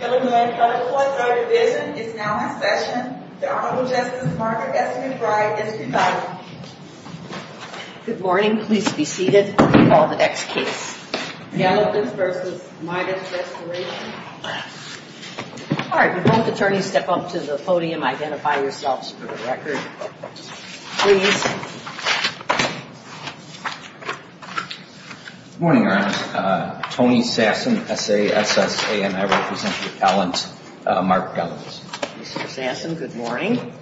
Good morning. The court of division is now in session. The Honorable Justice Margaret S. McBride is presiding. Good morning. Please be seated. I'll call the next case. Galavitz v. Meitus Restoration All right. Both attorneys step up to the podium. Identify yourselves for the record. Please. Good morning, Your Honor. Tony Sasson, S-A-S-S-A-N. I represent the appellant Mark Galavitz. Mr. Sasson, good morning.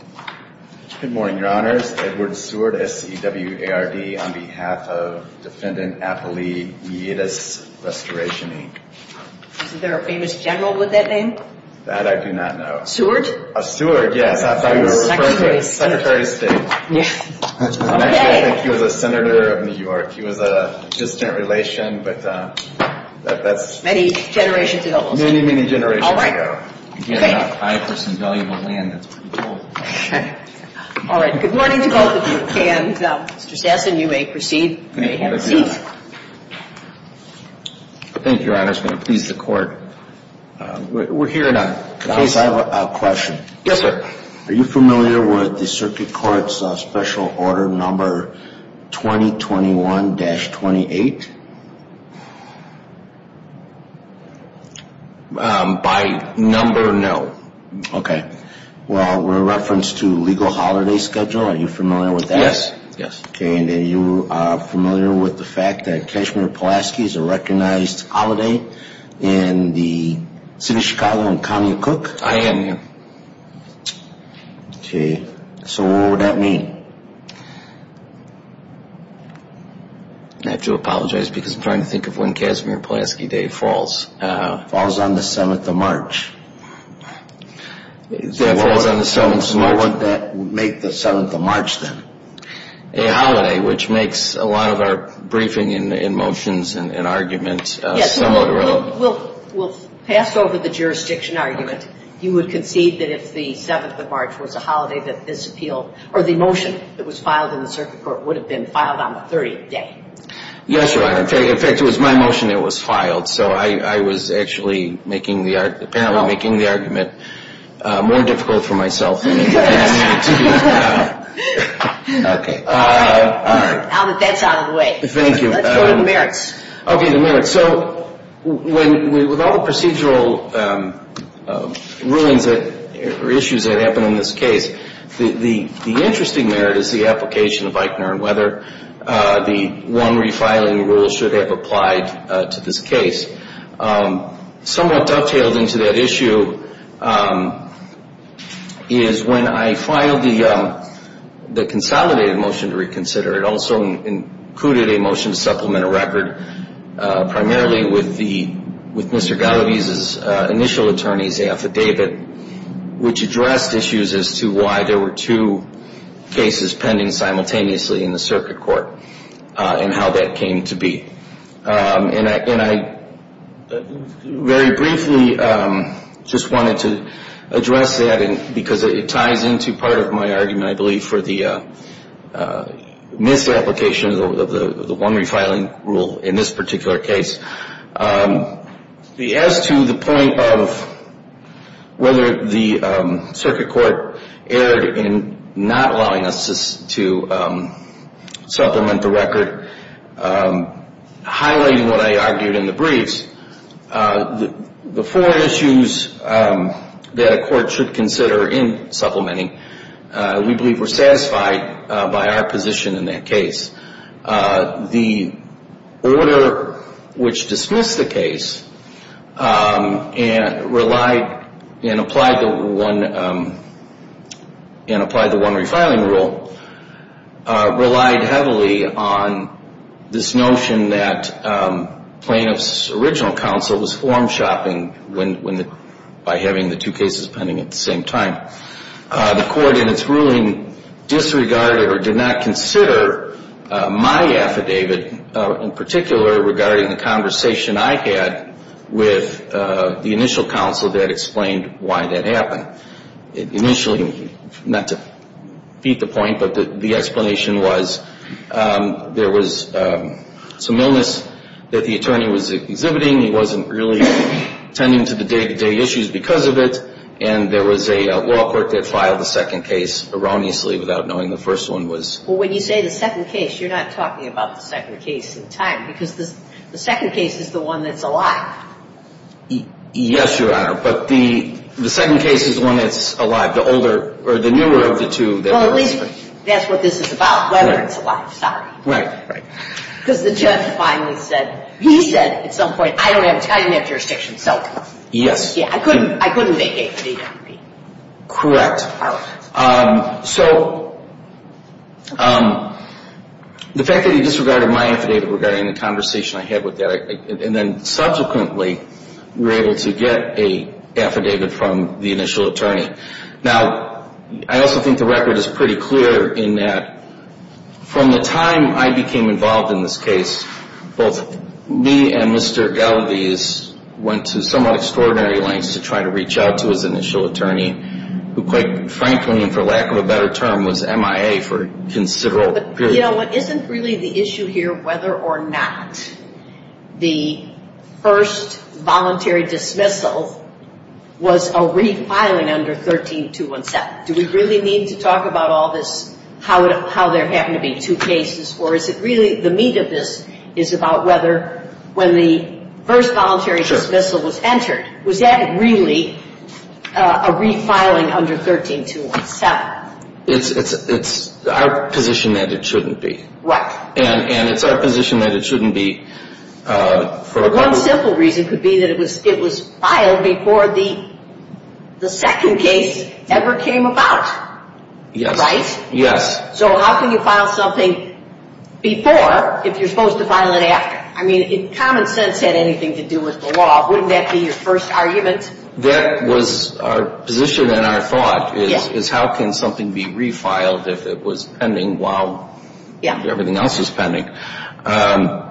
Good morning, Your Honor. It's Edward Seward, S-E-W-A-R-D, on behalf of Defendant Apolli Meitus Restoration Inc. Is there a famous general with that name? That I do not know. Seward? Seward, yes. I thought he was referring to Secretary of State. Okay. Actually, I think he was a senator of New York. He was a distant relation, but that's… Many generations ago. Many, many generations ago. All right. Thank you. Again, I represent valuable land. That's what I'm told. Okay. All right. Good morning to both of you. And, Mr. Sasson, you may proceed. You may have a seat. Thank you, Your Honor. It's going to please the Court. We're hearing a case. Can I ask a question? Yes, sir. Are you familiar with the Circuit Court's special order number 2021-28? By number, no. Okay. Well, in reference to legal holiday schedule, are you familiar with that? Yes, yes. Okay. And are you familiar with the fact that Kashmir-Pulaski is a recognized holiday in the City of Chicago and County of Cook? I am, yes. Okay. So what would that mean? I have to apologize because I'm trying to think of when Kashmir-Pulaski Day falls. Falls on the 7th of March. That falls on the 7th of March. So what would that make the 7th of March, then? A holiday, which makes a lot of our briefing and motions and arguments somewhat irrelevant. We'll pass over the jurisdiction argument. You would concede that if the 7th of March was a holiday that this appeal or the motion that was filed in the Circuit Court would have been filed on the 30th day. Yes, Your Honor. In fact, it was my motion that was filed. So I was actually making the argument, apparently making the argument more difficult for myself. Okay. All right. That's out of the way. Thank you. Let's go to the merits. Okay, the merits. So with all the procedural rulings or issues that happen in this case, the interesting merit is the application of Eichner and whether the one refiling rule should have applied to this case. Somewhat dovetailed into that issue is when I filed the consolidated motion to reconsider, it also included a motion to supplement a record primarily with Mr. Galaviz's initial attorney's affidavit, which addressed issues as to why there were two cases pending simultaneously in the Circuit Court and how that came to be. And I very briefly just wanted to address that because it ties into part of my argument, I believe, for the misapplication of the one refiling rule in this particular case. As to the point of whether the Circuit Court erred in not allowing us to supplement the record, highlighting what I argued in the briefs, the four issues that a court should consider in supplementing, we believe were satisfied by our position in that case. The order which dismissed the case and relied and applied the one refiling rule relied heavily on this notion that plaintiff's original counsel was form shopping by having the two cases pending at the same time. The court in its ruling disregarded or did not consider my affidavit, in particular regarding the conversation I had with the initial counsel that explained why that happened. Initially, not to beat the point, but the explanation was there was some illness that the attorney was exhibiting. He wasn't really tending to the day-to-day issues because of it, and there was a law court that filed the second case erroneously without knowing the first one was. Well, when you say the second case, you're not talking about the second case in time because the second case is the one that's alive. Yes, Your Honor, but the second case is the one that's alive, the older or the newer of the two. Well, at least that's what this is about, whether it's alive, sorry. Right. Because the judge finally said, he said at some point, I don't have jurisdiction, so. Yes. I couldn't make an affidavit. Correct. So the fact that he disregarded my affidavit regarding the conversation I had with that, and then subsequently were able to get an affidavit from the initial attorney. Now, I also think the record is pretty clear in that from the time I became involved in this case, both me and Mr. Galavis went to somewhat extraordinary lengths to try to reach out to his initial attorney, who quite frankly, and for lack of a better term, was MIA for a considerable period. But, you know, isn't really the issue here whether or not the first voluntary dismissal was a refiling under 13217? Do we really need to talk about all this, how there happened to be two cases, or is it really the meat of this is about whether when the first voluntary dismissal was entered, was that really a refiling under 13217? It's our position that it shouldn't be. What? And it's our position that it shouldn't be. Well, one simple reason could be that it was filed before the second case ever came about. Yes. Right? Yes. So how can you file something before if you're supposed to file it after? I mean, if common sense had anything to do with the law, wouldn't that be your first argument? That was our position and our thought, is how can something be refiled if it was pending while everything else is pending? And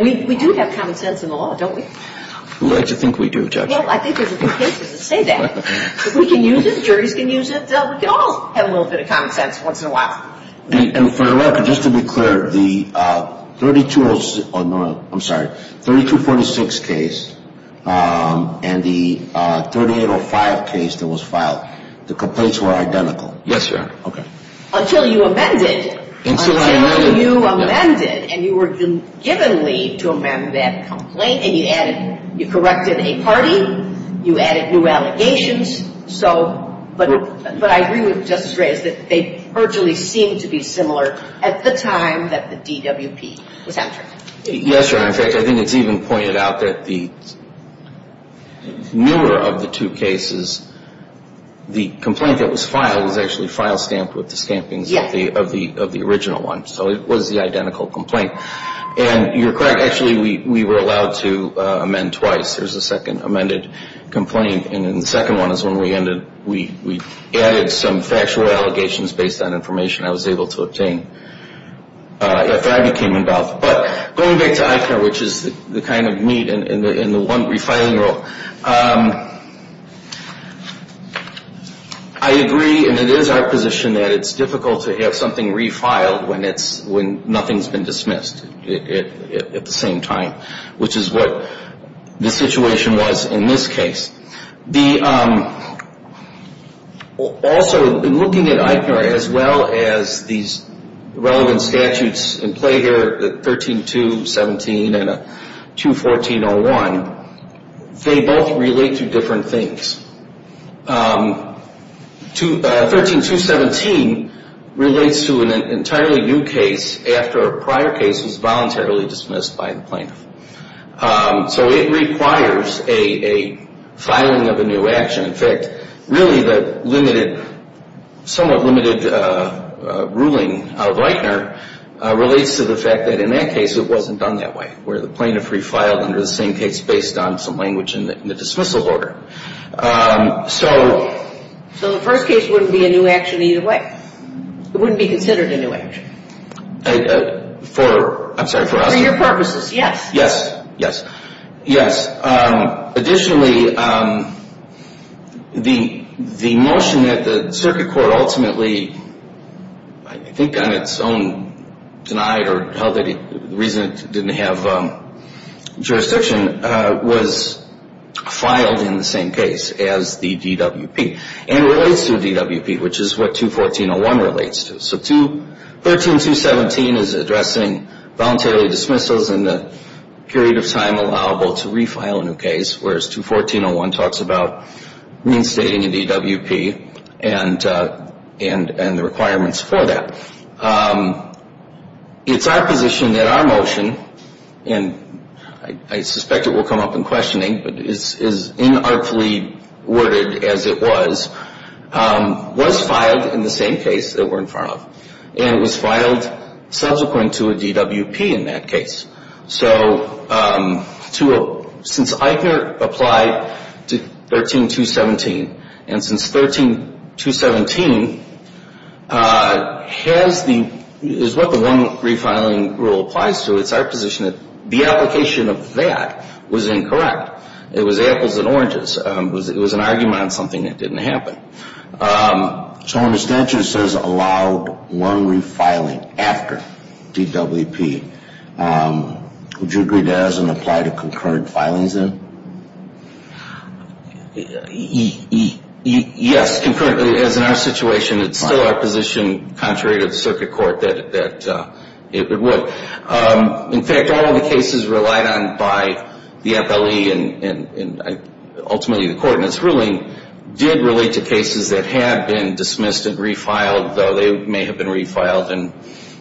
we do have common sense in the law, don't we? I like to think we do, Judge. Well, I think there's a few cases that say that. But we can use it. Juries can use it. We can all have a little bit of common sense once in a while. And for the record, just to be clear, the 3246 case and the 3805 case that was filed, the complaints were identical? Yes, Your Honor. Okay. Until you amended. Until I amended. Until you amended and you were given leave to amend that complaint and you added, you corrected a party, you added new allegations. But I agree with Justice Reyes that they virtually seemed to be similar at the time that the DWP was entered. Yes, Your Honor. In fact, I think it's even pointed out that the newer of the two cases, the complaint that was filed was actually file stamped with the stampings of the original one. So it was the identical complaint. And you're correct. Actually, we were allowed to amend twice. There's a second amended complaint. And the second one is when we added some factual allegations based on information I was able to obtain after I became involved. But going back to ICAR, which is the kind of meat in the one refiling rule, I agree, and it is our position, that it's difficult to have something refiled when nothing's been dismissed at the same time, which is what the situation was in this case. Also, in looking at ICAR, as well as these relevant statutes in play here, the 13-2-17 and 2-14-01, they both relate to different things. 13-2-17 relates to an entirely new case after a prior case was voluntarily dismissed by the plaintiff. So it requires a filing of a new action. In fact, really the somewhat limited ruling of Reitner relates to the fact that in that case it wasn't done that way, where the plaintiff refiled under the same case based on some language in the dismissal order. So the first case wouldn't be a new action either way. It wouldn't be considered a new action. I'm sorry, for us? For your purposes, yes. Yes, yes, yes. Additionally, the motion that the circuit court ultimately, I think on its own, denied or held that it didn't have jurisdiction, was filed in the same case as the DWP and relates to the DWP, which is what 2-14-01 relates to. So 13-2-17 is addressing voluntarily dismissals in the period of time allowable to refile a new case, whereas 2-14-01 talks about reinstating a DWP and the requirements for that. It's our position that our motion, and I suspect it will come up in questioning, but it's as inartfully worded as it was, was filed in the same case that we're in front of. And it was filed subsequent to a DWP in that case. So since Eitner applied to 13-2-17, and since 13-2-17 is what the one refiling rule applies to, it's our position that the application of that was incorrect. It was apples and oranges. It was an argument on something that didn't happen. So when the statute says allowed one refiling after DWP, would you agree to as and apply to concurrent filings then? Yes, concurrently. As in our situation, it's still our position, contrary to the circuit court, that it would. In fact, all of the cases relied on by the FLE and ultimately the Court in its ruling did relate to cases that had been dismissed and refiled, though they may have been refiled in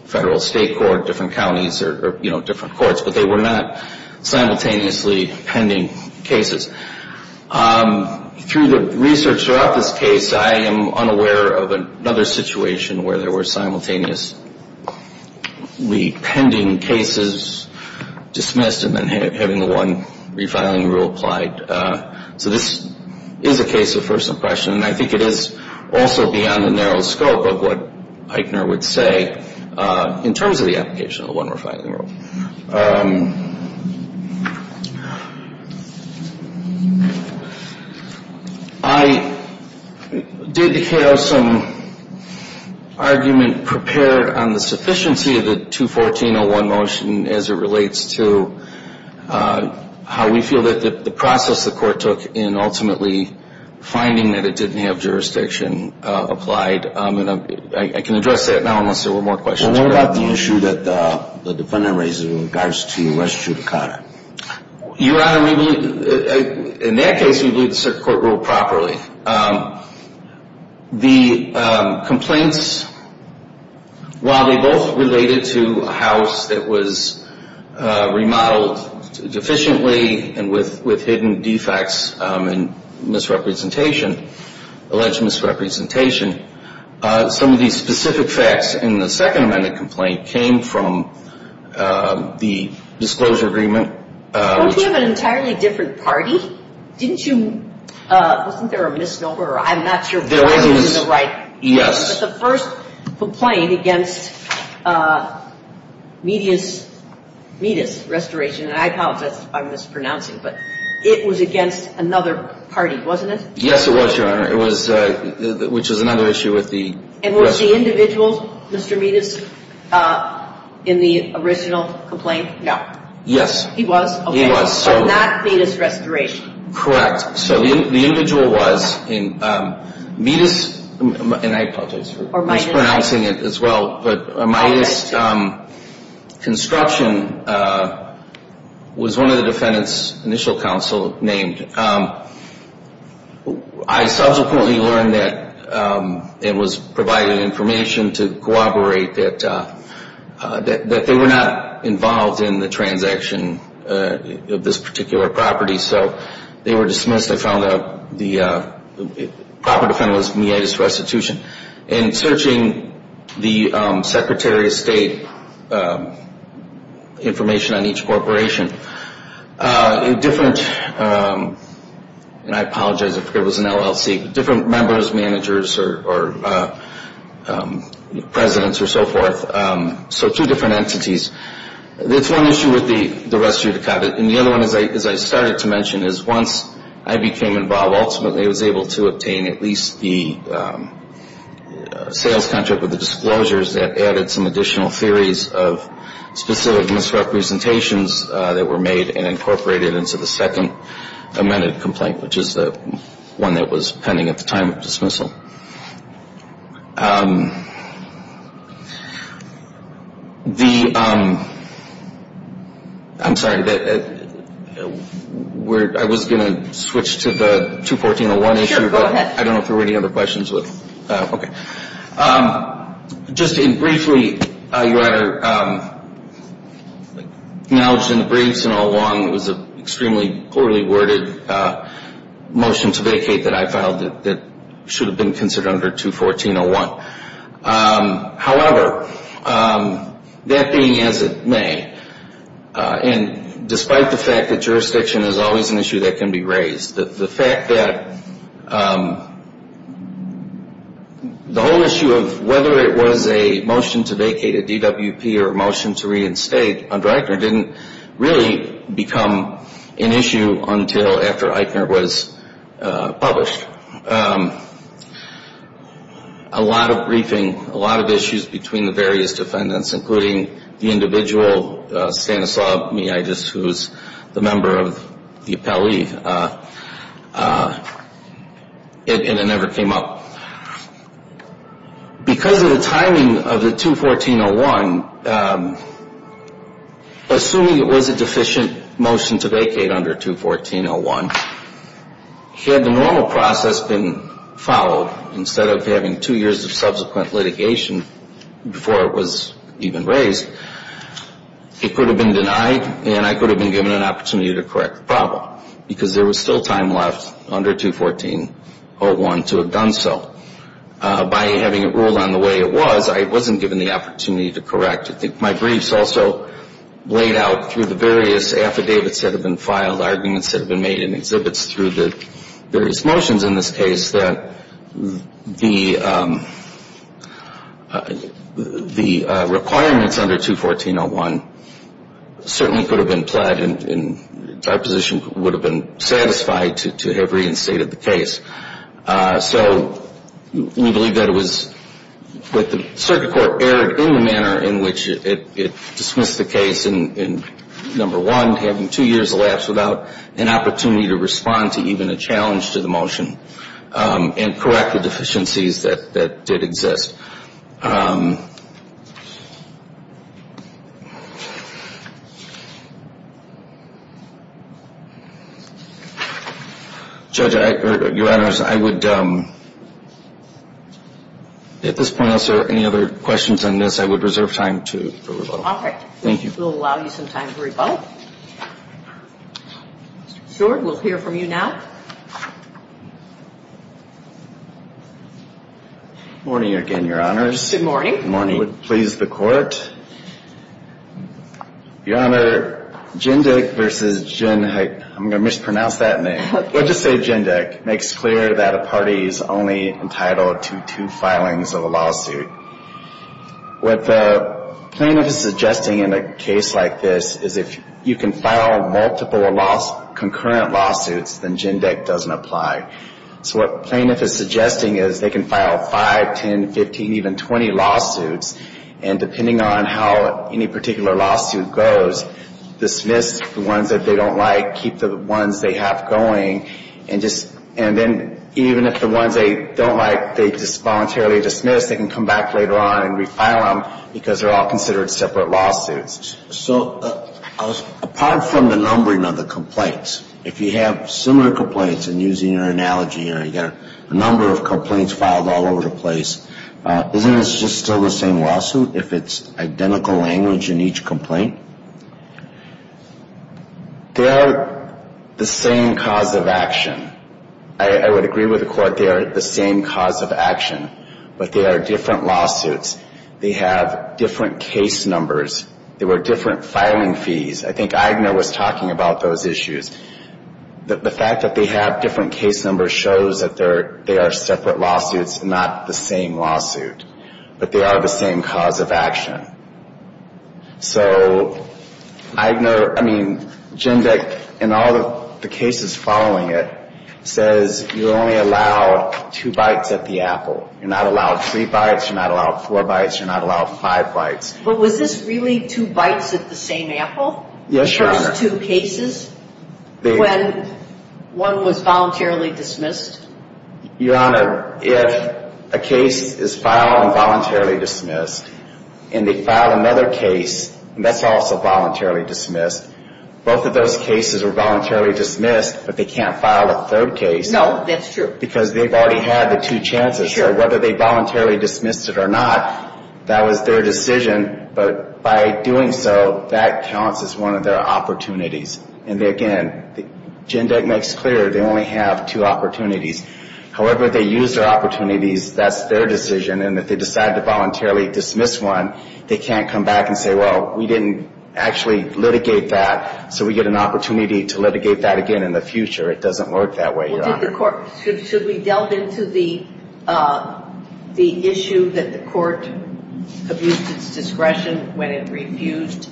federal, state, court, different counties or different courts, but they were not simultaneously pending cases. Through the research throughout this case, I am unaware of another situation where there were simultaneously pending cases dismissed and then having the one refiling rule applied. So this is a case of first impression, and I think it is also beyond the narrow scope of what Eitner would say in terms of the application of the one refiling rule. I did have some argument prepared on the sufficiency of the 214-01 motion as it relates to how we feel that the process the Court took in ultimately finding that it didn't have jurisdiction applied. I can address that now unless there were more questions. What about the issue that the defendant raised with regards to West Chutakata? Your Honor, in that case we viewed the circuit court rule properly. The complaints, while they both related to a house that was remodeled deficiently and with hidden defects and alleged misrepresentation, some of these specific facts in the second amended complaint came from the disclosure agreement. Don't we have an entirely different party? Wasn't there a misnomer? I'm not sure why this is the right answer, but the first complaint against Miedis Restoration, and I apologize if I'm mispronouncing, but it was against another party, wasn't it? Yes, it was, Your Honor, which was another issue with the restoration. And was the individual, Mr. Miedis, in the original complaint? No. Yes. He was? He was. So not Miedis Restoration. Correct. So the individual was in Miedis, and I apologize for mispronouncing it as well, but Miedis Construction was one of the defendant's initial counsel named. I subsequently learned that it was provided information to corroborate that they were not involved in the transaction of this particular property, so they were dismissed. I found the proper defendant was Miedis Restitution. In searching the Secretary of State information on each corporation, different, and I apologize if it was an LLC, different members, managers, or presidents, or so forth. So two different entities. That's one issue with the res judicata, and the other one, as I started to mention, is once I became involved, ultimately I was able to obtain at least the sales contract with the disclosures that added some additional theories of specific misrepresentations that were made and incorporated into the second amended complaint, which is the one that was pending at the time of dismissal. The, I'm sorry, I was going to switch to the 214.01 issue. Sure, go ahead. I don't know if there were any other questions. Okay. Just briefly, Your Honor, acknowledged in the briefs and all along, it was an extremely poorly worded motion to vacate that I filed that should have been considered under 214.01. However, that being as it may, and despite the fact that jurisdiction is always an issue that can be raised, the fact that the whole issue of whether it was a motion to vacate a DWP or a motion to reinstate under Eichner didn't really become an issue until after Eichner was published. A lot of briefing, a lot of issues between the various defendants, including the individual Stanislav Mijitis, who is the member of the appellee, and it never came up. Because of the timing of the 214.01, assuming it was a deficient motion to vacate under 214.01, had the normal process been followed, instead of having two years of subsequent litigation before it was even raised, it could have been denied and I could have been given an opportunity to correct the problem. Because there was still time left under 214.01 to have done so. By having it ruled on the way it was, I wasn't given the opportunity to correct it. My briefs also laid out through the various affidavits that have been filed, arguments that have been made in exhibits through the various motions in this case, that the requirements under 214.01 certainly could have been pled and our position would have been satisfied to have reinstated the case. So we believe that it was, that the circuit court erred in the manner in which it dismissed the case in, number one, having two years elapsed without an opportunity to respond to even a challenge to the motion and correct the deficiencies that did exist. Judge, Your Honors, I would, at this point, unless there are any other questions on this, I would reserve time for rebuttal. Okay. Thank you. We'll allow you some time for rebuttal. Mr. Short, we'll hear from you now. Good morning again, Your Honors. Good morning. Good morning. It would please the Court. Your Honor, Jindyk v. Jindyk, I'm going to mispronounce that name. We'll just say Jindyk, makes clear that a party is only entitled to two filings of a lawsuit. What the plaintiff is suggesting in a case like this is if you can file multiple concurrent lawsuits, then Jindyk doesn't apply. So what the plaintiff is suggesting is they can file 5, 10, 15, even 20 lawsuits, and depending on how any particular lawsuit goes, dismiss the ones that they don't like, keep the ones they have going, and then even if the ones they don't like they just voluntarily dismiss, they can come back later on and refile them because they're all considered separate lawsuits. So apart from the numbering of the complaints, if you have similar complaints, and using your analogy, you've got a number of complaints filed all over the place, isn't this just still the same lawsuit if it's identical language in each complaint? They are the same cause of action. I would agree with the Court they are the same cause of action, but they are different lawsuits. They have different case numbers. There were different filing fees. I think Eigner was talking about those issues. The fact that they have different case numbers shows that they are separate lawsuits, not the same lawsuit, but they are the same cause of action. So Eigner, I mean, Jindyk, in all the cases following it, says you're only allowed two bites at the apple. You're not allowed three bites. You're not allowed four bites. You're not allowed five bites. But was this really two bites at the same apple? Yes, Your Honor. Those two cases when one was voluntarily dismissed? Your Honor, if a case is filed and voluntarily dismissed, and they file another case, and that's also voluntarily dismissed, both of those cases are voluntarily dismissed, but they can't file a third case. No, that's true. Because they've already had the two chances. So whether they voluntarily dismissed it or not, that was their decision, but by doing so, that counts as one of their opportunities. And, again, Jindyk makes clear they only have two opportunities. However, if they use their opportunities, that's their decision, and if they decide to voluntarily dismiss one, they can't come back and say, well, we didn't actually litigate that, so we get an opportunity to litigate that again in the future. It doesn't work that way, Your Honor. Should we delve into the issue that the court abused its discretion when it refused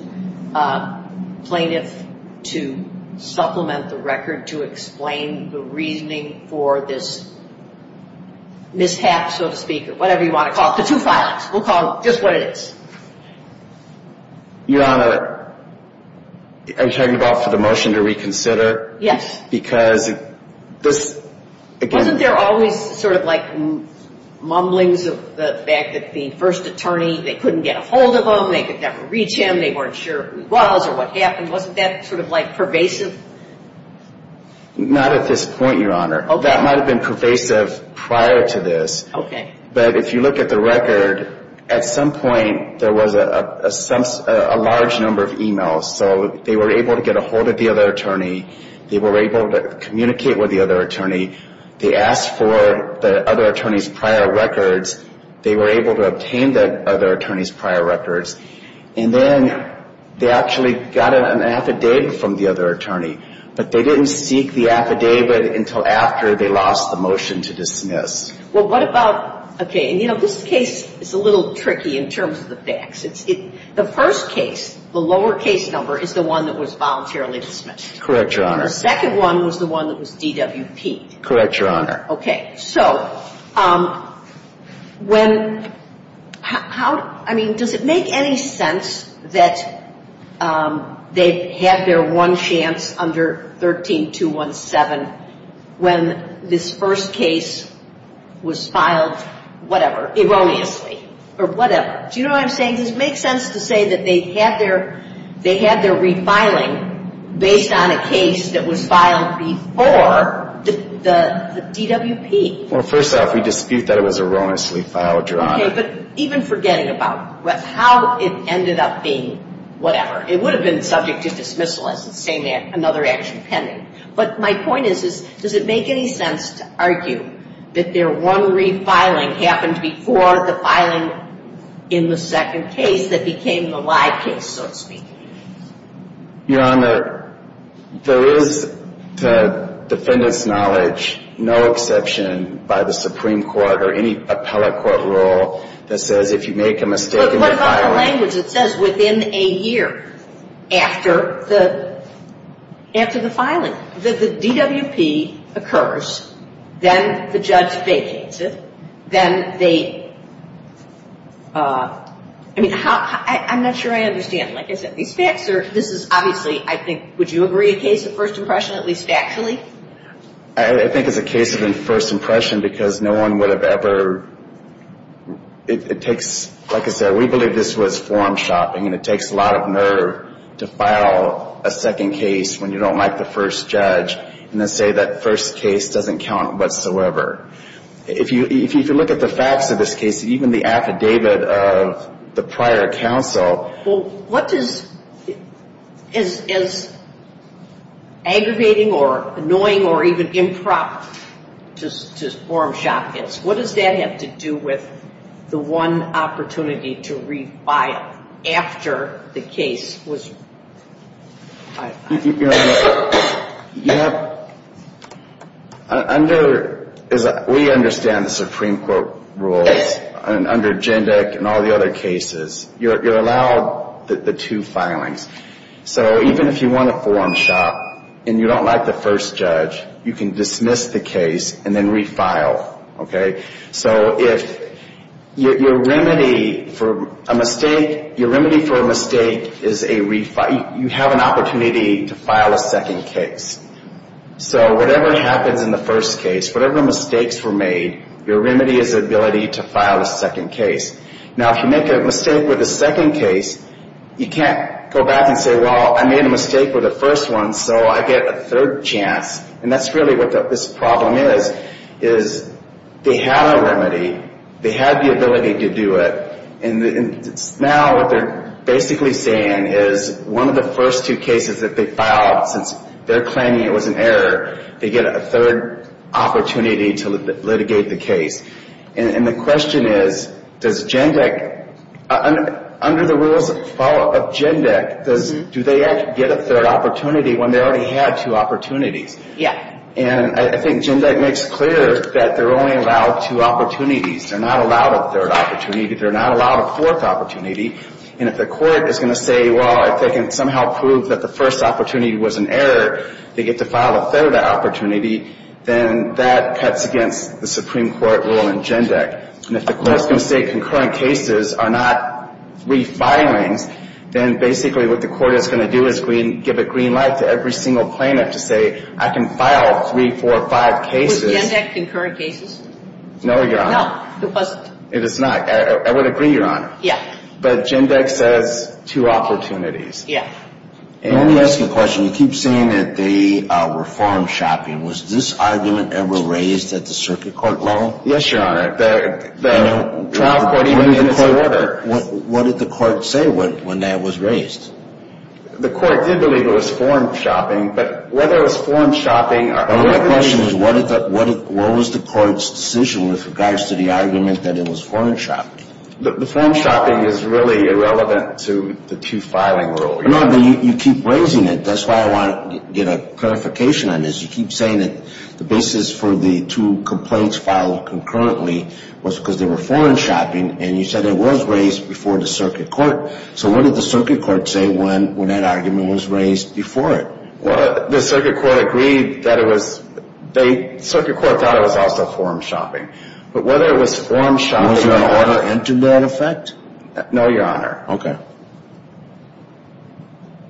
plaintiffs to supplement the record to explain the reasoning for this mishap, so to speak, or whatever you want to call it, the two filings. We'll call it just what it is. Your Honor, are you talking about the motion to reconsider? Yes. Because this, again... Wasn't there always sort of like mumblings of the fact that the first attorney, they couldn't get a hold of him, they could never reach him, they weren't sure who he was or what happened? Wasn't that sort of like pervasive? Not at this point, Your Honor. Okay. That might have been pervasive prior to this. Okay. So they were able to get a hold of the other attorney, they were able to communicate with the other attorney, they asked for the other attorney's prior records, they were able to obtain the other attorney's prior records, and then they actually got an affidavit from the other attorney, but they didn't seek the affidavit until after they lost the motion to dismiss. Well, what about... Okay, and, you know, this case is a little tricky in terms of the facts. The first case, the lower case number, is the one that was voluntarily dismissed. Correct, Your Honor. And the second one was the one that was DWP'd. Correct, Your Honor. Okay. So when... I mean, does it make any sense that they had their one chance under 13-217 when this first case was filed whatever, erroneously, or whatever? Do you know what I'm saying? Does it make sense to say that they had their refiling based on a case that was filed before the DWP? Well, first off, we dispute that it was erroneously filed, Your Honor. Okay, but even forgetting about how it ended up being whatever. It would have been subject to dismissal as another action pending. But my point is, does it make any sense to argue that their one refiling happened before the filing in the second case that became the live case, so to speak? Your Honor, there is, to defendant's knowledge, no exception by the Supreme Court or any appellate court rule that says if you make a mistake in the filing... But what about the language that says within a year after the filing? The DWP occurs, then the judge vacates it, then they... I mean, I'm not sure I understand. Like I said, these facts are... This is obviously, I think, would you agree a case of first impression, at least factually? I think it's a case of first impression because no one would have ever... It takes... Like I said, we believe this was form shopping, and it takes a lot of nerve to file a second case when you don't like the first judge and then say that first case doesn't count whatsoever. If you look at the facts of this case, even the affidavit of the prior counsel... Well, what is aggravating or annoying or even improper to form shop is? What does that have to do with the one opportunity to refile after the case was... You know, under... We understand the Supreme Court rules, and under JINDEC and all the other cases, you're allowed the two filings. So even if you want to form shop and you don't like the first judge, you can dismiss the case and then refile. Okay? So if your remedy for a mistake is a refile, you have an opportunity to file a second case. So whatever happens in the first case, whatever mistakes were made, your remedy is the ability to file a second case. Now, if you make a mistake with a second case, you can't go back and say, Well, I made a mistake with the first one, so I get a third chance. And that's really what this problem is, is they had a remedy. They had the ability to do it. And now what they're basically saying is one of the first two cases that they filed, since they're claiming it was an error, they get a third opportunity to litigate the case. And the question is, does JINDEC... Do they get a third opportunity when they already had two opportunities? Yeah. And I think JINDEC makes clear that they're only allowed two opportunities. They're not allowed a third opportunity. They're not allowed a fourth opportunity. And if the court is going to say, Well, if they can somehow prove that the first opportunity was an error, they get to file a third opportunity, then that cuts against the Supreme Court rule in JINDEC. And if the court is going to say concurrent cases are not refilings, then basically what the court is going to do is give a green light to every single plaintiff to say, I can file three, four, five cases. Was JINDEC concurrent cases? No, Your Honor. No, it wasn't. It is not. I would agree, Your Honor. Yeah. But JINDEC says two opportunities. Yeah. And let me ask you a question. You keep saying that they were farm shopping. Was this argument ever raised at the circuit court level? Yes, Your Honor. The trial court even did not say that. What did the court say when that was raised? The court did believe it was farm shopping. But whether it was farm shopping or whether it was JINDEC. My question is what was the court's decision with regards to the argument that it was farm shopping? The farm shopping is really irrelevant to the two filing rules. No, but you keep raising it. That's why I want to get a clarification on this. You keep saying that the basis for the two complaints filed concurrently was because they were farm shopping. And you said it was raised before the circuit court. So what did the circuit court say when that argument was raised before it? Well, the circuit court agreed that it was... The circuit court thought it was also farm shopping. But whether it was farm shopping... Was your honor into that effect? No, Your Honor. Okay.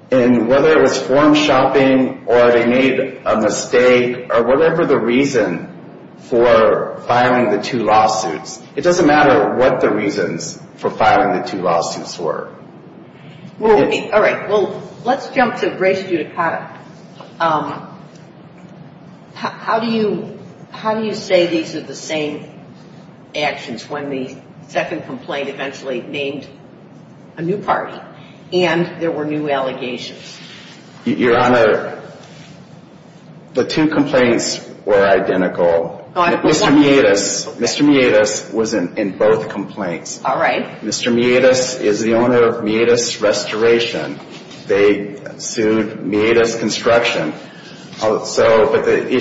And whether it was farm shopping or they made a mistake or whatever the reason for filing the two lawsuits. It doesn't matter what the reasons for filing the two lawsuits were. All right. Well, let's jump to Grace Giudicata. How do you say these are the same actions when the second complaint eventually named a new party and there were new allegations? Your Honor, the two complaints were identical. Mr. Meadis was in both complaints. All right. Mr. Meadis is the owner of Meadis Restoration. They sued Meadis Construction. But the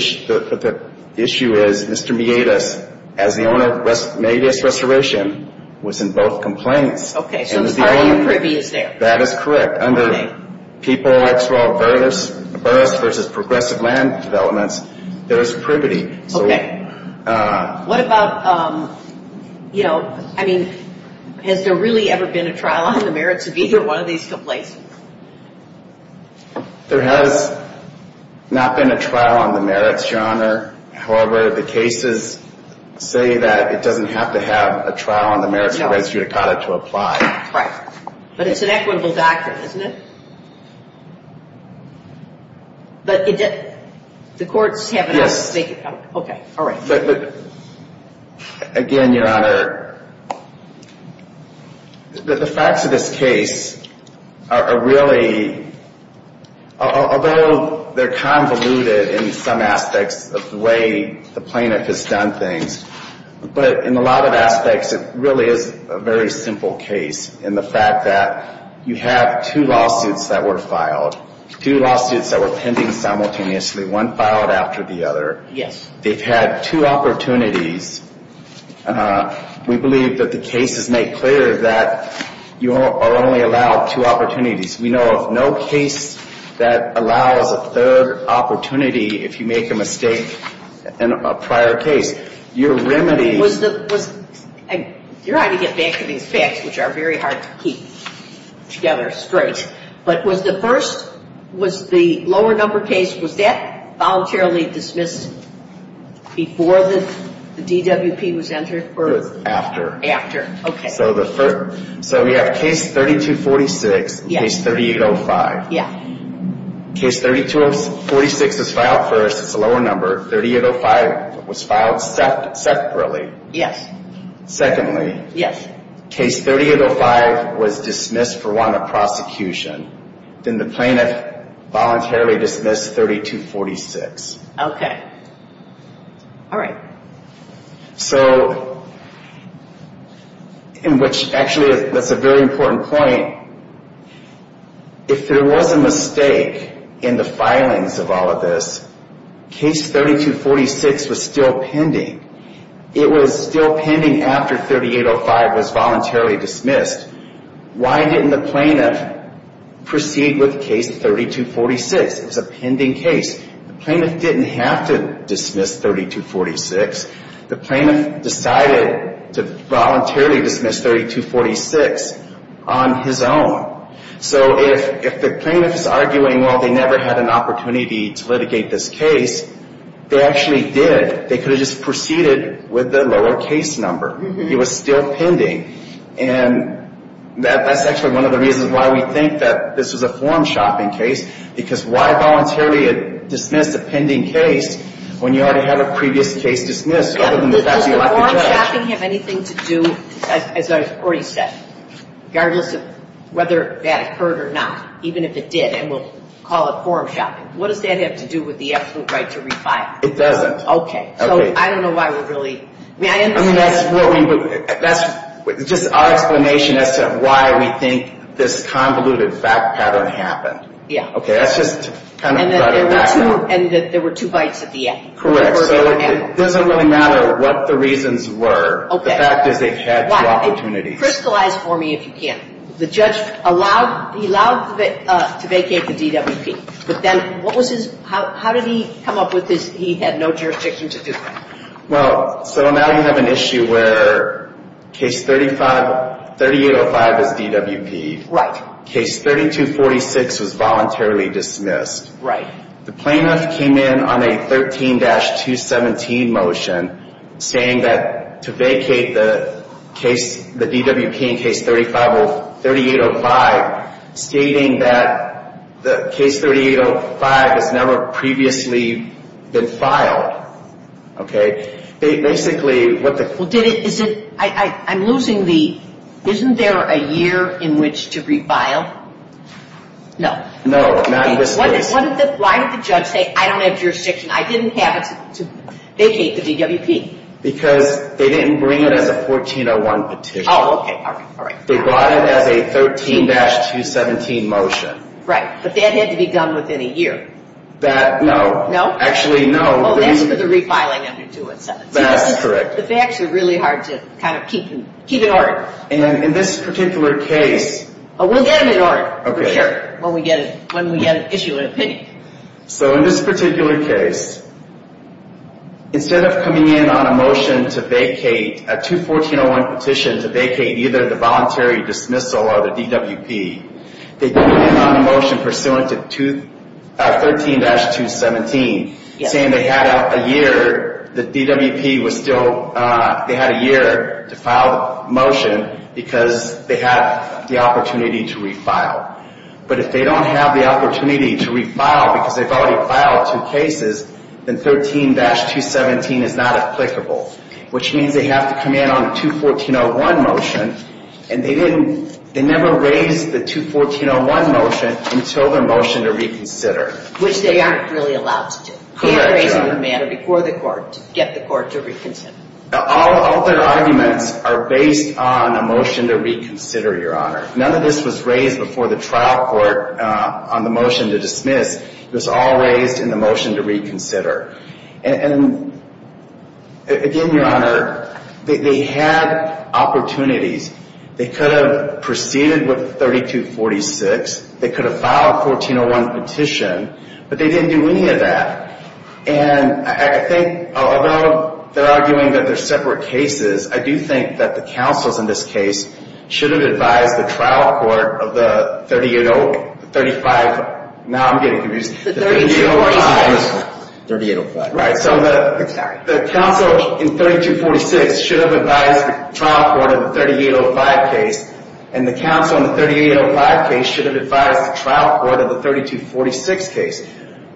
issue is Mr. Meadis, as the owner of Meadis Restoration, was in both complaints. Okay. So are you privy is there? That is correct. But under people like Burris versus Progressive Land Developments, there is privity. Okay. What about, you know, I mean, has there really ever been a trial on the merits of either one of these complaints? There has not been a trial on the merits, Your Honor. However, the cases say that it doesn't have to have a trial on the merits for Grace Giudicata to apply. Right. But it's an equitable doctrine, isn't it? But the courts have enough to make it. Yes. Okay. All right. Again, Your Honor, the facts of this case are really, although they're convoluted in some aspects of the way the plaintiff has done things, but in a lot of aspects it really is a very simple case in the fact that you have two lawsuits that were filed, two lawsuits that were pending simultaneously, one filed after the other. Yes. They've had two opportunities. We believe that the cases make clear that you are only allowed two opportunities. We know of no case that allows a third opportunity if you make a mistake in a prior case. Your remedy was the... You're trying to get back to these facts, which are very hard to keep together straight. But was the first, was the lower number case, was that voluntarily dismissed before the DWP was entered or... It was after. After. Okay. So we have case 3246 and case 3805. Yes. Case 3246 was filed first. It's a lower number. 3805 was filed separately. Yes. Secondly. Yes. Case 3805 was dismissed for want of prosecution. Then the plaintiff voluntarily dismissed 3246. Okay. All right. So, in which actually that's a very important point. If there was a mistake in the filings of all of this, case 3246 was still pending. It was still pending after 3805 was voluntarily dismissed. Why didn't the plaintiff proceed with case 3246? It was a pending case. The plaintiff didn't have to dismiss 3246. The plaintiff decided to voluntarily dismiss 3246 on his own. So if the plaintiff is arguing, well, they never had an opportunity to litigate this case, they actually did. They could have just proceeded with the lower case number. It was still pending. And that's actually one of the reasons why we think that this is a form shopping case, because why voluntarily dismiss a pending case when you already have a previous case dismissed other than the fact that you left the judge? Does the form shopping have anything to do, as I've already said, regardless of whether that occurred or not, even if it did and we'll call it form shopping, what does that have to do with the absolute right to refile? It doesn't. Okay. So I don't know why we're really ‑‑ I mean, that's just our explanation as to why we think this convoluted fact pattern happened. Yeah. Okay. That's just kind of ‑‑ And there were two bites at the end. Correct. So it doesn't really matter what the reasons were. Okay. The fact is they've had two opportunities. Crystallize for me if you can. The judge allowed ‑‑ he allowed to vacate the DWP. But then what was his ‑‑ how did he come up with this? He had no jurisdiction to do that. Well, so now you have an issue where case 3805 is DWP'd. Right. Case 3246 was voluntarily dismissed. Right. The plaintiff came in on a 13-217 motion saying that to vacate the DWP in case 3805, stating that the case 3805 has never previously been filed. Okay. Basically, what the ‑‑ Well, did it ‑‑ is it ‑‑ I'm losing the ‑‑ isn't there a year in which to refile? No. No. Not in this case. Why did the judge say, I don't have jurisdiction, I didn't have it to vacate the DWP? Because they didn't bring it as a 1401 petition. Oh, okay. All right. They brought it as a 13-217 motion. Right. But that had to be done within a year. That, no. No? Actually, no. Oh, that's for the refiling under 217. That's correct. The facts are really hard to kind of keep in order. And in this particular case ‑‑ We'll get them in order. Okay. For sure. When we get an issue in opinion. So in this particular case, instead of coming in on a motion to vacate a 214-01 petition to vacate either the voluntary dismissal or the DWP, they came in on a motion pursuant to 13-217 saying they had a year, the DWP was still, they had a year to file the motion because they had the opportunity to refile. But if they don't have the opportunity to refile because they've already filed two cases, then 13-217 is not applicable. Which means they have to come in on a 214-01 motion. And they didn't, they never raised the 214-01 motion until their motion to reconsider. Which they aren't really allowed to do. Correct, Your Honor. They have to raise the matter before the court to get the court to reconsider. All their arguments are based on a motion to reconsider, Your Honor. None of this was raised before the trial court on the motion to dismiss. It was all raised in the motion to reconsider. And again, Your Honor, they had opportunities. They could have proceeded with 32-46. They could have filed a 14-01 petition. But they didn't do any of that. And I think, although they're arguing that they're separate cases, I do think that the counsels in this case should have advised the trial court of the 38-oh, 35, now I'm getting confused. The 32-45. Right, so the counsel in 32-46 should have advised the trial court of the 38-05 case. And the counsel in the 38-05 case should have advised the trial court of the 32-46 case.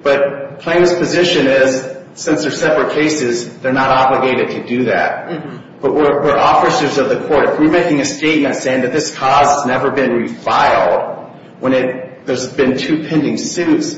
But Plaintiff's position is, since they're separate cases, they're not obligated to do that. But we're officers of the court. If we're making a statement saying that this cause has never been refiled, when there's been two pending suits,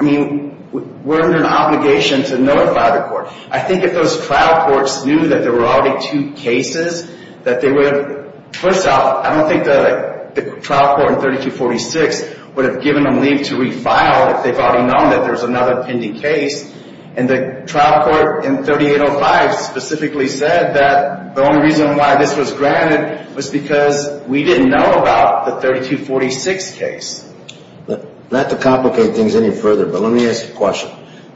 I mean, we're under an obligation to notify the court. I think if those trial courts knew that there were already two cases, that they would have, first off, I don't think the trial court in 32-46 would have given them leave to refile if they've already known that there's another pending case. And the trial court in 38-05 specifically said that the only reason why this was granted was because we didn't know about the 32-46 case. Not to complicate things any further, but let me ask a question.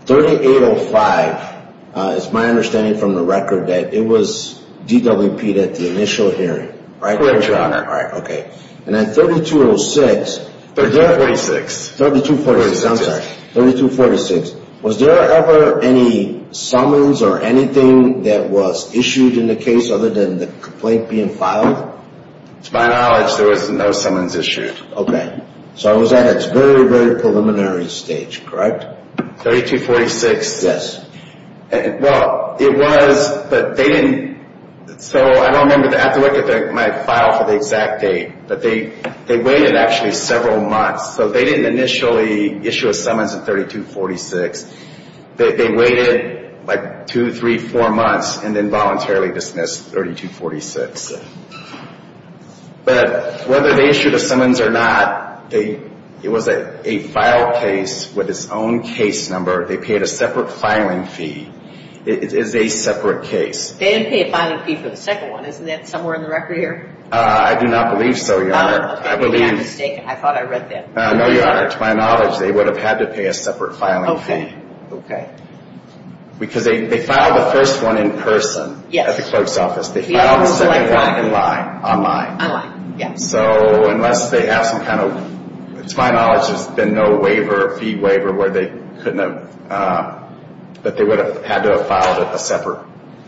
38-05, it's my understanding from the record, that it was DWP'd at the initial hearing. Correct, Your Honor. All right, okay. And then 32-06... 32-46. 32-46, I'm sorry. 32-46. Was there ever any summons or anything that was issued in the case other than the complaint being filed? To my knowledge, there was no summons issued. Okay. So it was at its very, very preliminary stage, correct? 32-46. Yes. Well, it was, but they didn't... So I don't remember, I have to look at my file for the exact date, but they waited actually several months. So they didn't initially issue a summons in 32-46. They waited like two, three, four months and then voluntarily dismissed 32-46. But whether they issued a summons or not, it was a filed case with its own case number. They paid a separate filing fee. It is a separate case. They didn't pay a filing fee for the second one. Isn't that somewhere in the record here? I do not believe so, Your Honor. Oh, okay. Maybe I'm mistaken. I thought I read that. No, Your Honor. To my knowledge, they would have had to pay a separate filing fee. Okay. Because they filed the first one in person at the clerk's office. They filed the second one in line, online. Online, yes. So unless they have some kind of... To my knowledge, there's been no waiver, fee waiver, where they couldn't have... that they would have had to have filed a separate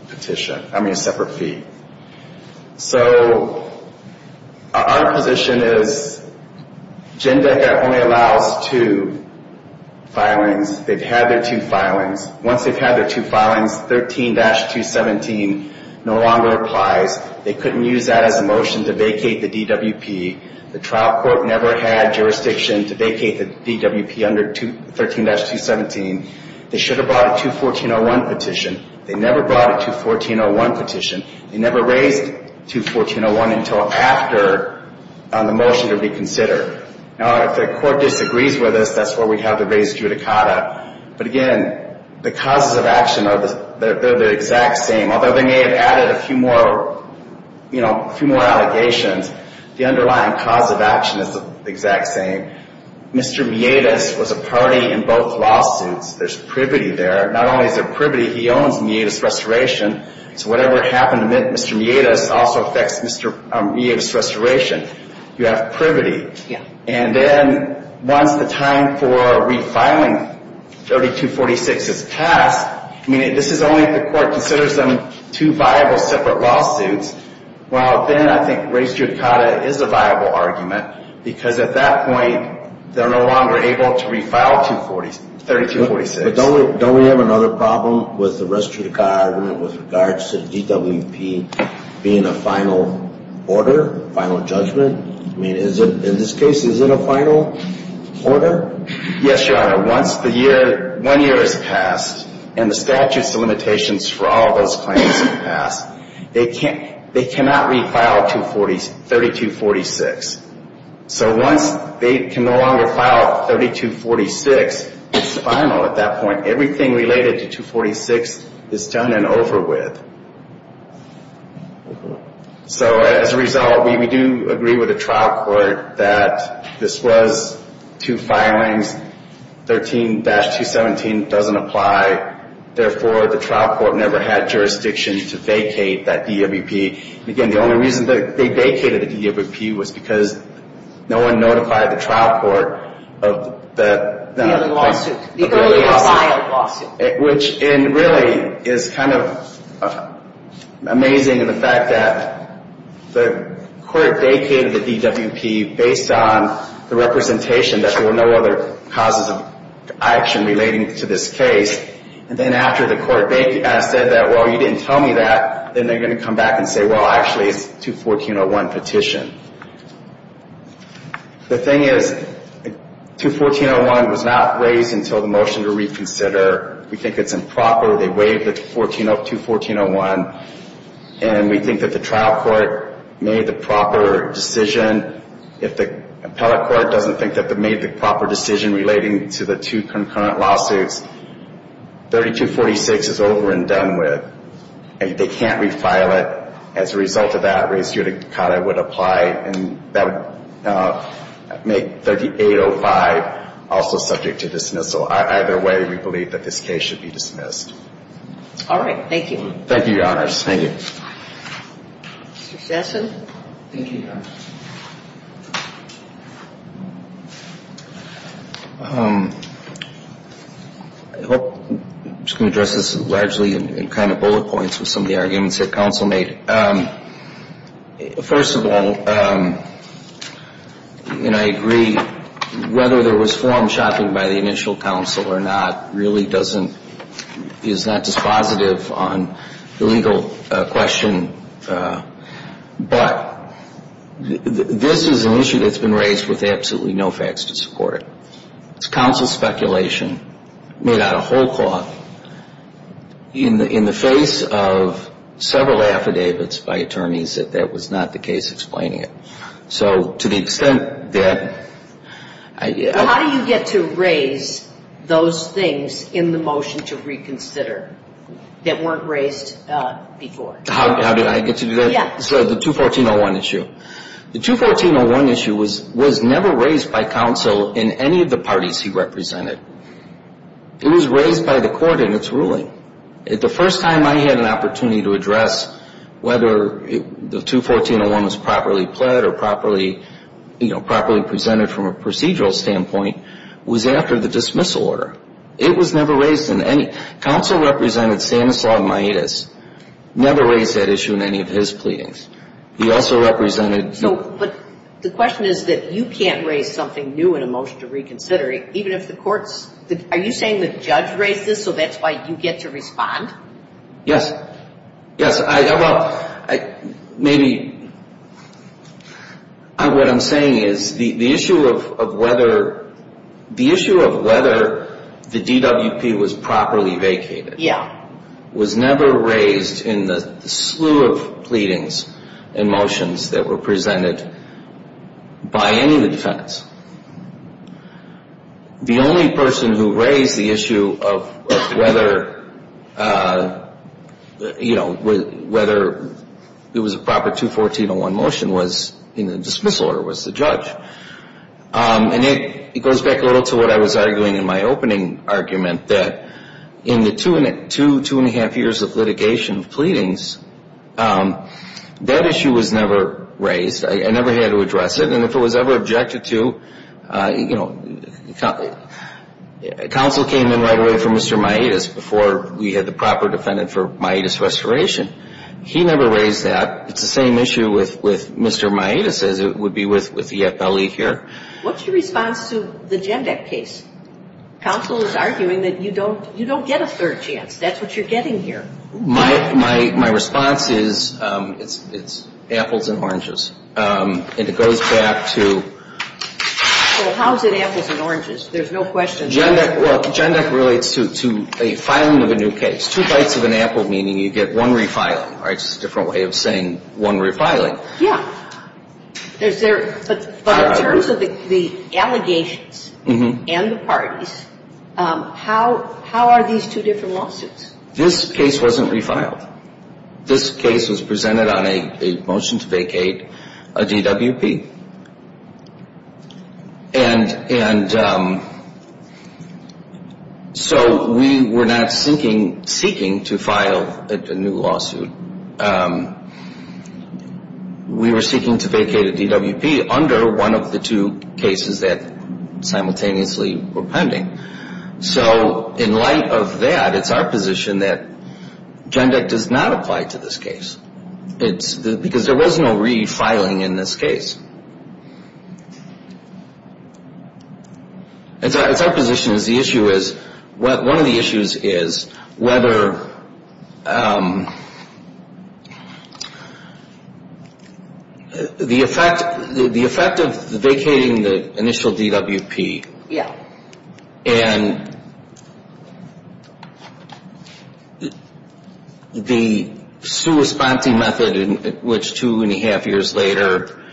petition, I mean a separate fee. So our position is Jindeca only allows two filings. They've had their two filings. Once they've had their two filings, 13-217 no longer applies. They couldn't use that as a motion to vacate the DWP. The trial court never had jurisdiction to vacate the DWP under 13-217. They should have brought a 214.01 petition. They never brought a 214.01 petition. They never raised 214.01 until after the motion to reconsider. Now, if the court disagrees with us, that's where we'd have to raise judicata. But, again, the causes of action are the exact same. Although they may have added a few more allegations, the underlying cause of action is the exact same. Mr. Miedas was a party in both lawsuits. There's privity there. Not only is there privity, he owns Miedas Restoration. So whatever happened to Mr. Miedas also affects Miedas Restoration. You have privity. And then once the time for refiling 32-46 is passed, this is only if the court considers them two viable separate lawsuits. Well, then I think raised judicata is a viable argument because at that point they're no longer able to refile 32-46. But don't we have another problem with the raised judicata argument with regards to the DWP being a final order, final judgment? I mean, in this case, is it a final order? Yes, Your Honor. Once one year has passed and the statutes of limitations for all those claims have passed, they cannot refile 32-46. So once they can no longer file 32-46, it's final at that point. Everything related to 2-46 is done and over with. So as a result, we do agree with the trial court that this was two filings. 13-217 doesn't apply. Therefore, the trial court never had jurisdiction to vacate that DWP. Again, the only reason they vacated the DWP was because no one notified the trial court of that. The early lawsuit. The early filed lawsuit. Which really is kind of amazing in the fact that the court vacated the DWP based on the representation that there were no other causes of action relating to this case. And then after the court said that, well, you didn't tell me that, then they're going to come back and say, well, actually, it's 2-1401 petition. The thing is, 2-1401 was not raised until the motion to reconsider. We think it's improper. They waived 2-1401. And we think that the trial court made the proper decision. If the appellate court doesn't think that they made the proper decision relating to the two concurrent lawsuits, 32-46 is over and done with. They can't refile it. As a result of that, I raise here to cut. I would apply and that would make 38-05 also subject to dismissal. Either way, we believe that this case should be dismissed. All right. Thank you. Thank you, Your Honors. Thank you. Mr. Sassen. Thank you, Your Honor. I'm just going to address this largely in kind of bullet points with some of the arguments that counsel made. First of all, and I agree, whether there was form shopping by the initial counsel or not really doesn't, is not dispositive on the legal question. But this is an issue that's been raised with absolutely no facts to support it. It's counsel speculation made out of whole cloth in the face of several affidavits by attorneys that that was not the case explaining it. So to the extent that – Well, how do you get to raise those things in the motion to reconsider that weren't raised before? How did I get to do that? Yeah. So the 214-01 issue. The 214-01 issue was never raised by counsel in any of the parties he represented. It was raised by the court in its ruling. The first time I had an opportunity to address whether the 214-01 was properly pled or properly presented from a procedural standpoint was after the dismissal order. It was never raised in any – Counsel represented Stanislaw Maedas never raised that issue in any of his pleadings. He also represented – But the question is that you can't raise something new in a motion to reconsider, even if the courts – are you saying the judge raised this so that's why you get to respond? Yes. Yes. Well, maybe what I'm saying is the issue of whether the DWP was properly vacated – Yeah. Was never raised in the slew of pleadings and motions that were presented by any of the defendants. The only person who raised the issue of whether it was a proper 214-01 motion was – in the dismissal order was the judge. And it goes back a little to what I was arguing in my opening argument that in the two and a half years of litigation of pleadings, that issue was never raised. I never had to address it. And if it was ever objected to, you know, counsel came in right away for Mr. Maedas before we had the proper defendant for Maedas' restoration. He never raised that. It's the same issue with Mr. Maedas as it would be with the EFLE here. What's your response to the GENDEC case? Counsel is arguing that you don't get a third chance. That's what you're getting here. My response is it's apples and oranges. And it goes back to – Well, how is it apples and oranges? There's no question. GENDEC relates to a filing of a new case. Two bites of an apple, meaning you get one refiling. It's a different way of saying one refiling. Yeah. But in terms of the allegations and the parties, how are these two different lawsuits? This case wasn't refiled. This case was presented on a motion to vacate a DWP. And so we were not seeking to file a new lawsuit. We were seeking to vacate a DWP under one of the two cases that simultaneously were pending. So in light of that, it's our position that GENDEC does not apply to this case. Because there was no refiling in this case. It's our position that the issue is – one of the issues is whether the effect of vacating the initial DWP Yeah. And the sua sponte method in which two and a half years later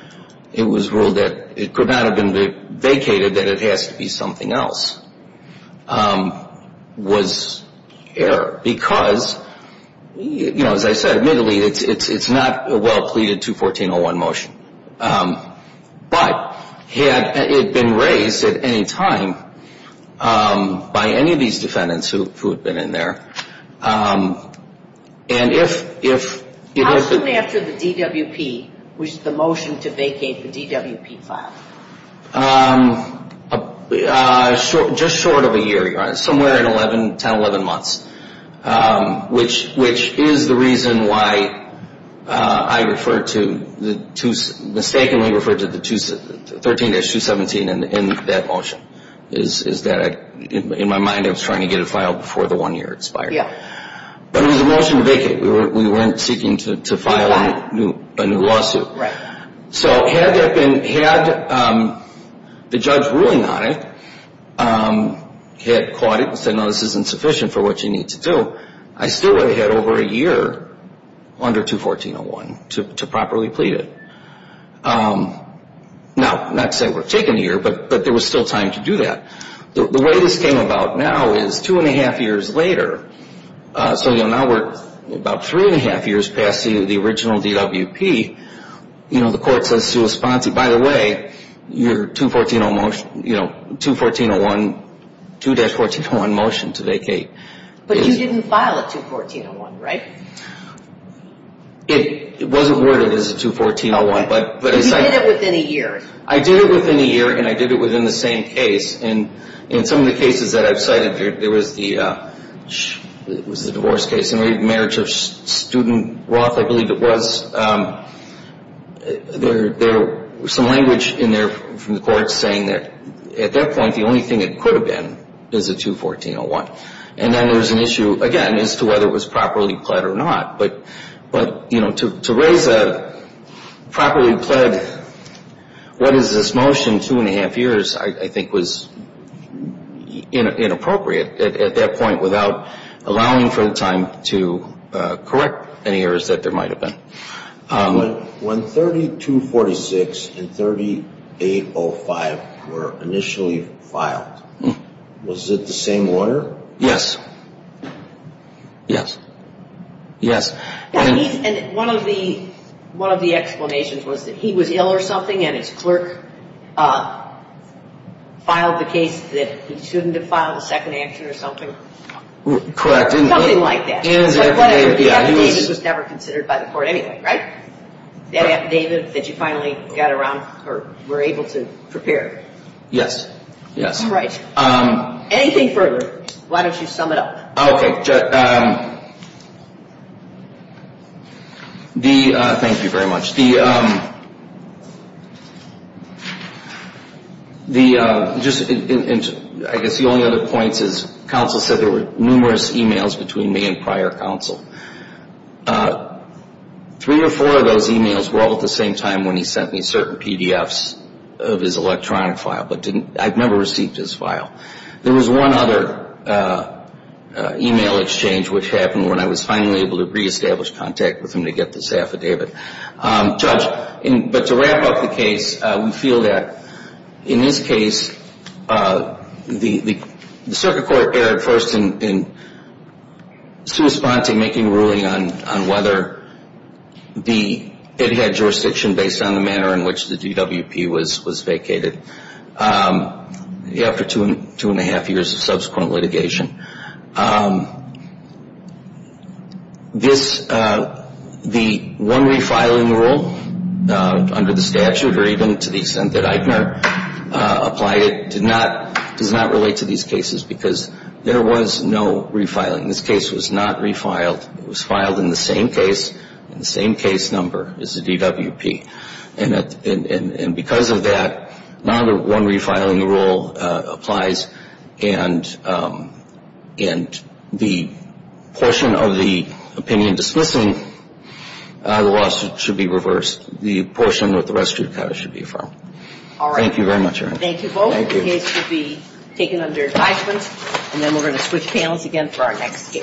it was ruled that it could not have been vacated, that it has to be something else, was error. Because, you know, as I said, admittedly, it's not a well-pleaded 214.01 motion. But had it been raised at any time by any of these defendants who had been in there, and if – How soon after the DWP, which is the motion to vacate the DWP, filed? Just short of a year, Your Honor. Somewhere in 10, 11 months. Which is the reason why I referred to – mistakenly referred to the 13-217 in that motion. Is that in my mind I was trying to get it filed before the one year expired. Yeah. But it was a motion to vacate. We weren't seeking to file a new lawsuit. Right. So had that been – had the judge ruling on it, had caught it and said, no, this isn't sufficient for what you need to do, I still would have had over a year under 214.01 to properly plead it. Now, not to say we're taking a year, but there was still time to do that. The way this came about now is two and a half years later, so now we're about three and a half years past the original DWP, the court says to a sponsor, by the way, your 214.01, 2-14.01 motion to vacate. But you didn't file a 214.01, right? It wasn't worded as a 214.01. But you did it within a year. I did it within a year, and I did it within the same case. And in some of the cases that I've cited, there was the – it was the divorce case. In the marriage of student Roth, I believe it was, there was some language in there from the courts saying that at that point, the only thing it could have been is a 214.01. And then there was an issue, again, as to whether it was properly pled or not. But, you know, to raise a properly pled, what is this motion, two and a half years, I think was inappropriate at that point without allowing for the time to correct any errors that there might have been. When 3246 and 3805 were initially filed, was it the same lawyer? Yes. Yes. Yes. And one of the explanations was that he was ill or something, and his clerk filed the case that he shouldn't have filed a second action or something. Correct. Something like that. In his affidavit, yeah. But the affidavit was never considered by the court anyway, right? That affidavit that you finally got around or were able to prepare. Yes. Yes. Right. Anything further, why don't you sum it up? Okay. Thank you very much. I guess the only other point is counsel said there were numerous e-mails between me and prior counsel. Three or four of those e-mails were all at the same time when he sent me certain PDFs of his electronic file, but I never received his file. There was one other e-mail exchange, which happened when I was finally able to reestablish contact with him to get this affidavit. Judge, but to wrap up the case, we feel that in this case the circuit court erred first in making a ruling on whether it had jurisdiction based on the manner in which the DWP was vacated. After two and a half years of subsequent litigation. The one refiling rule under the statute, or even to the extent that Eichner applied it, does not relate to these cases because there was no refiling. This case was not refiled. It was filed in the same case, in the same case number as the DWP. And because of that, not one refiling rule applies, and the portion of the opinion dismissing the lawsuit should be reversed. The portion that the rest of you should be affirmed. All right. Thank you very much, Your Honor. Thank you both. The case should be taken under advisement, and then we're going to switch panels again for our next case.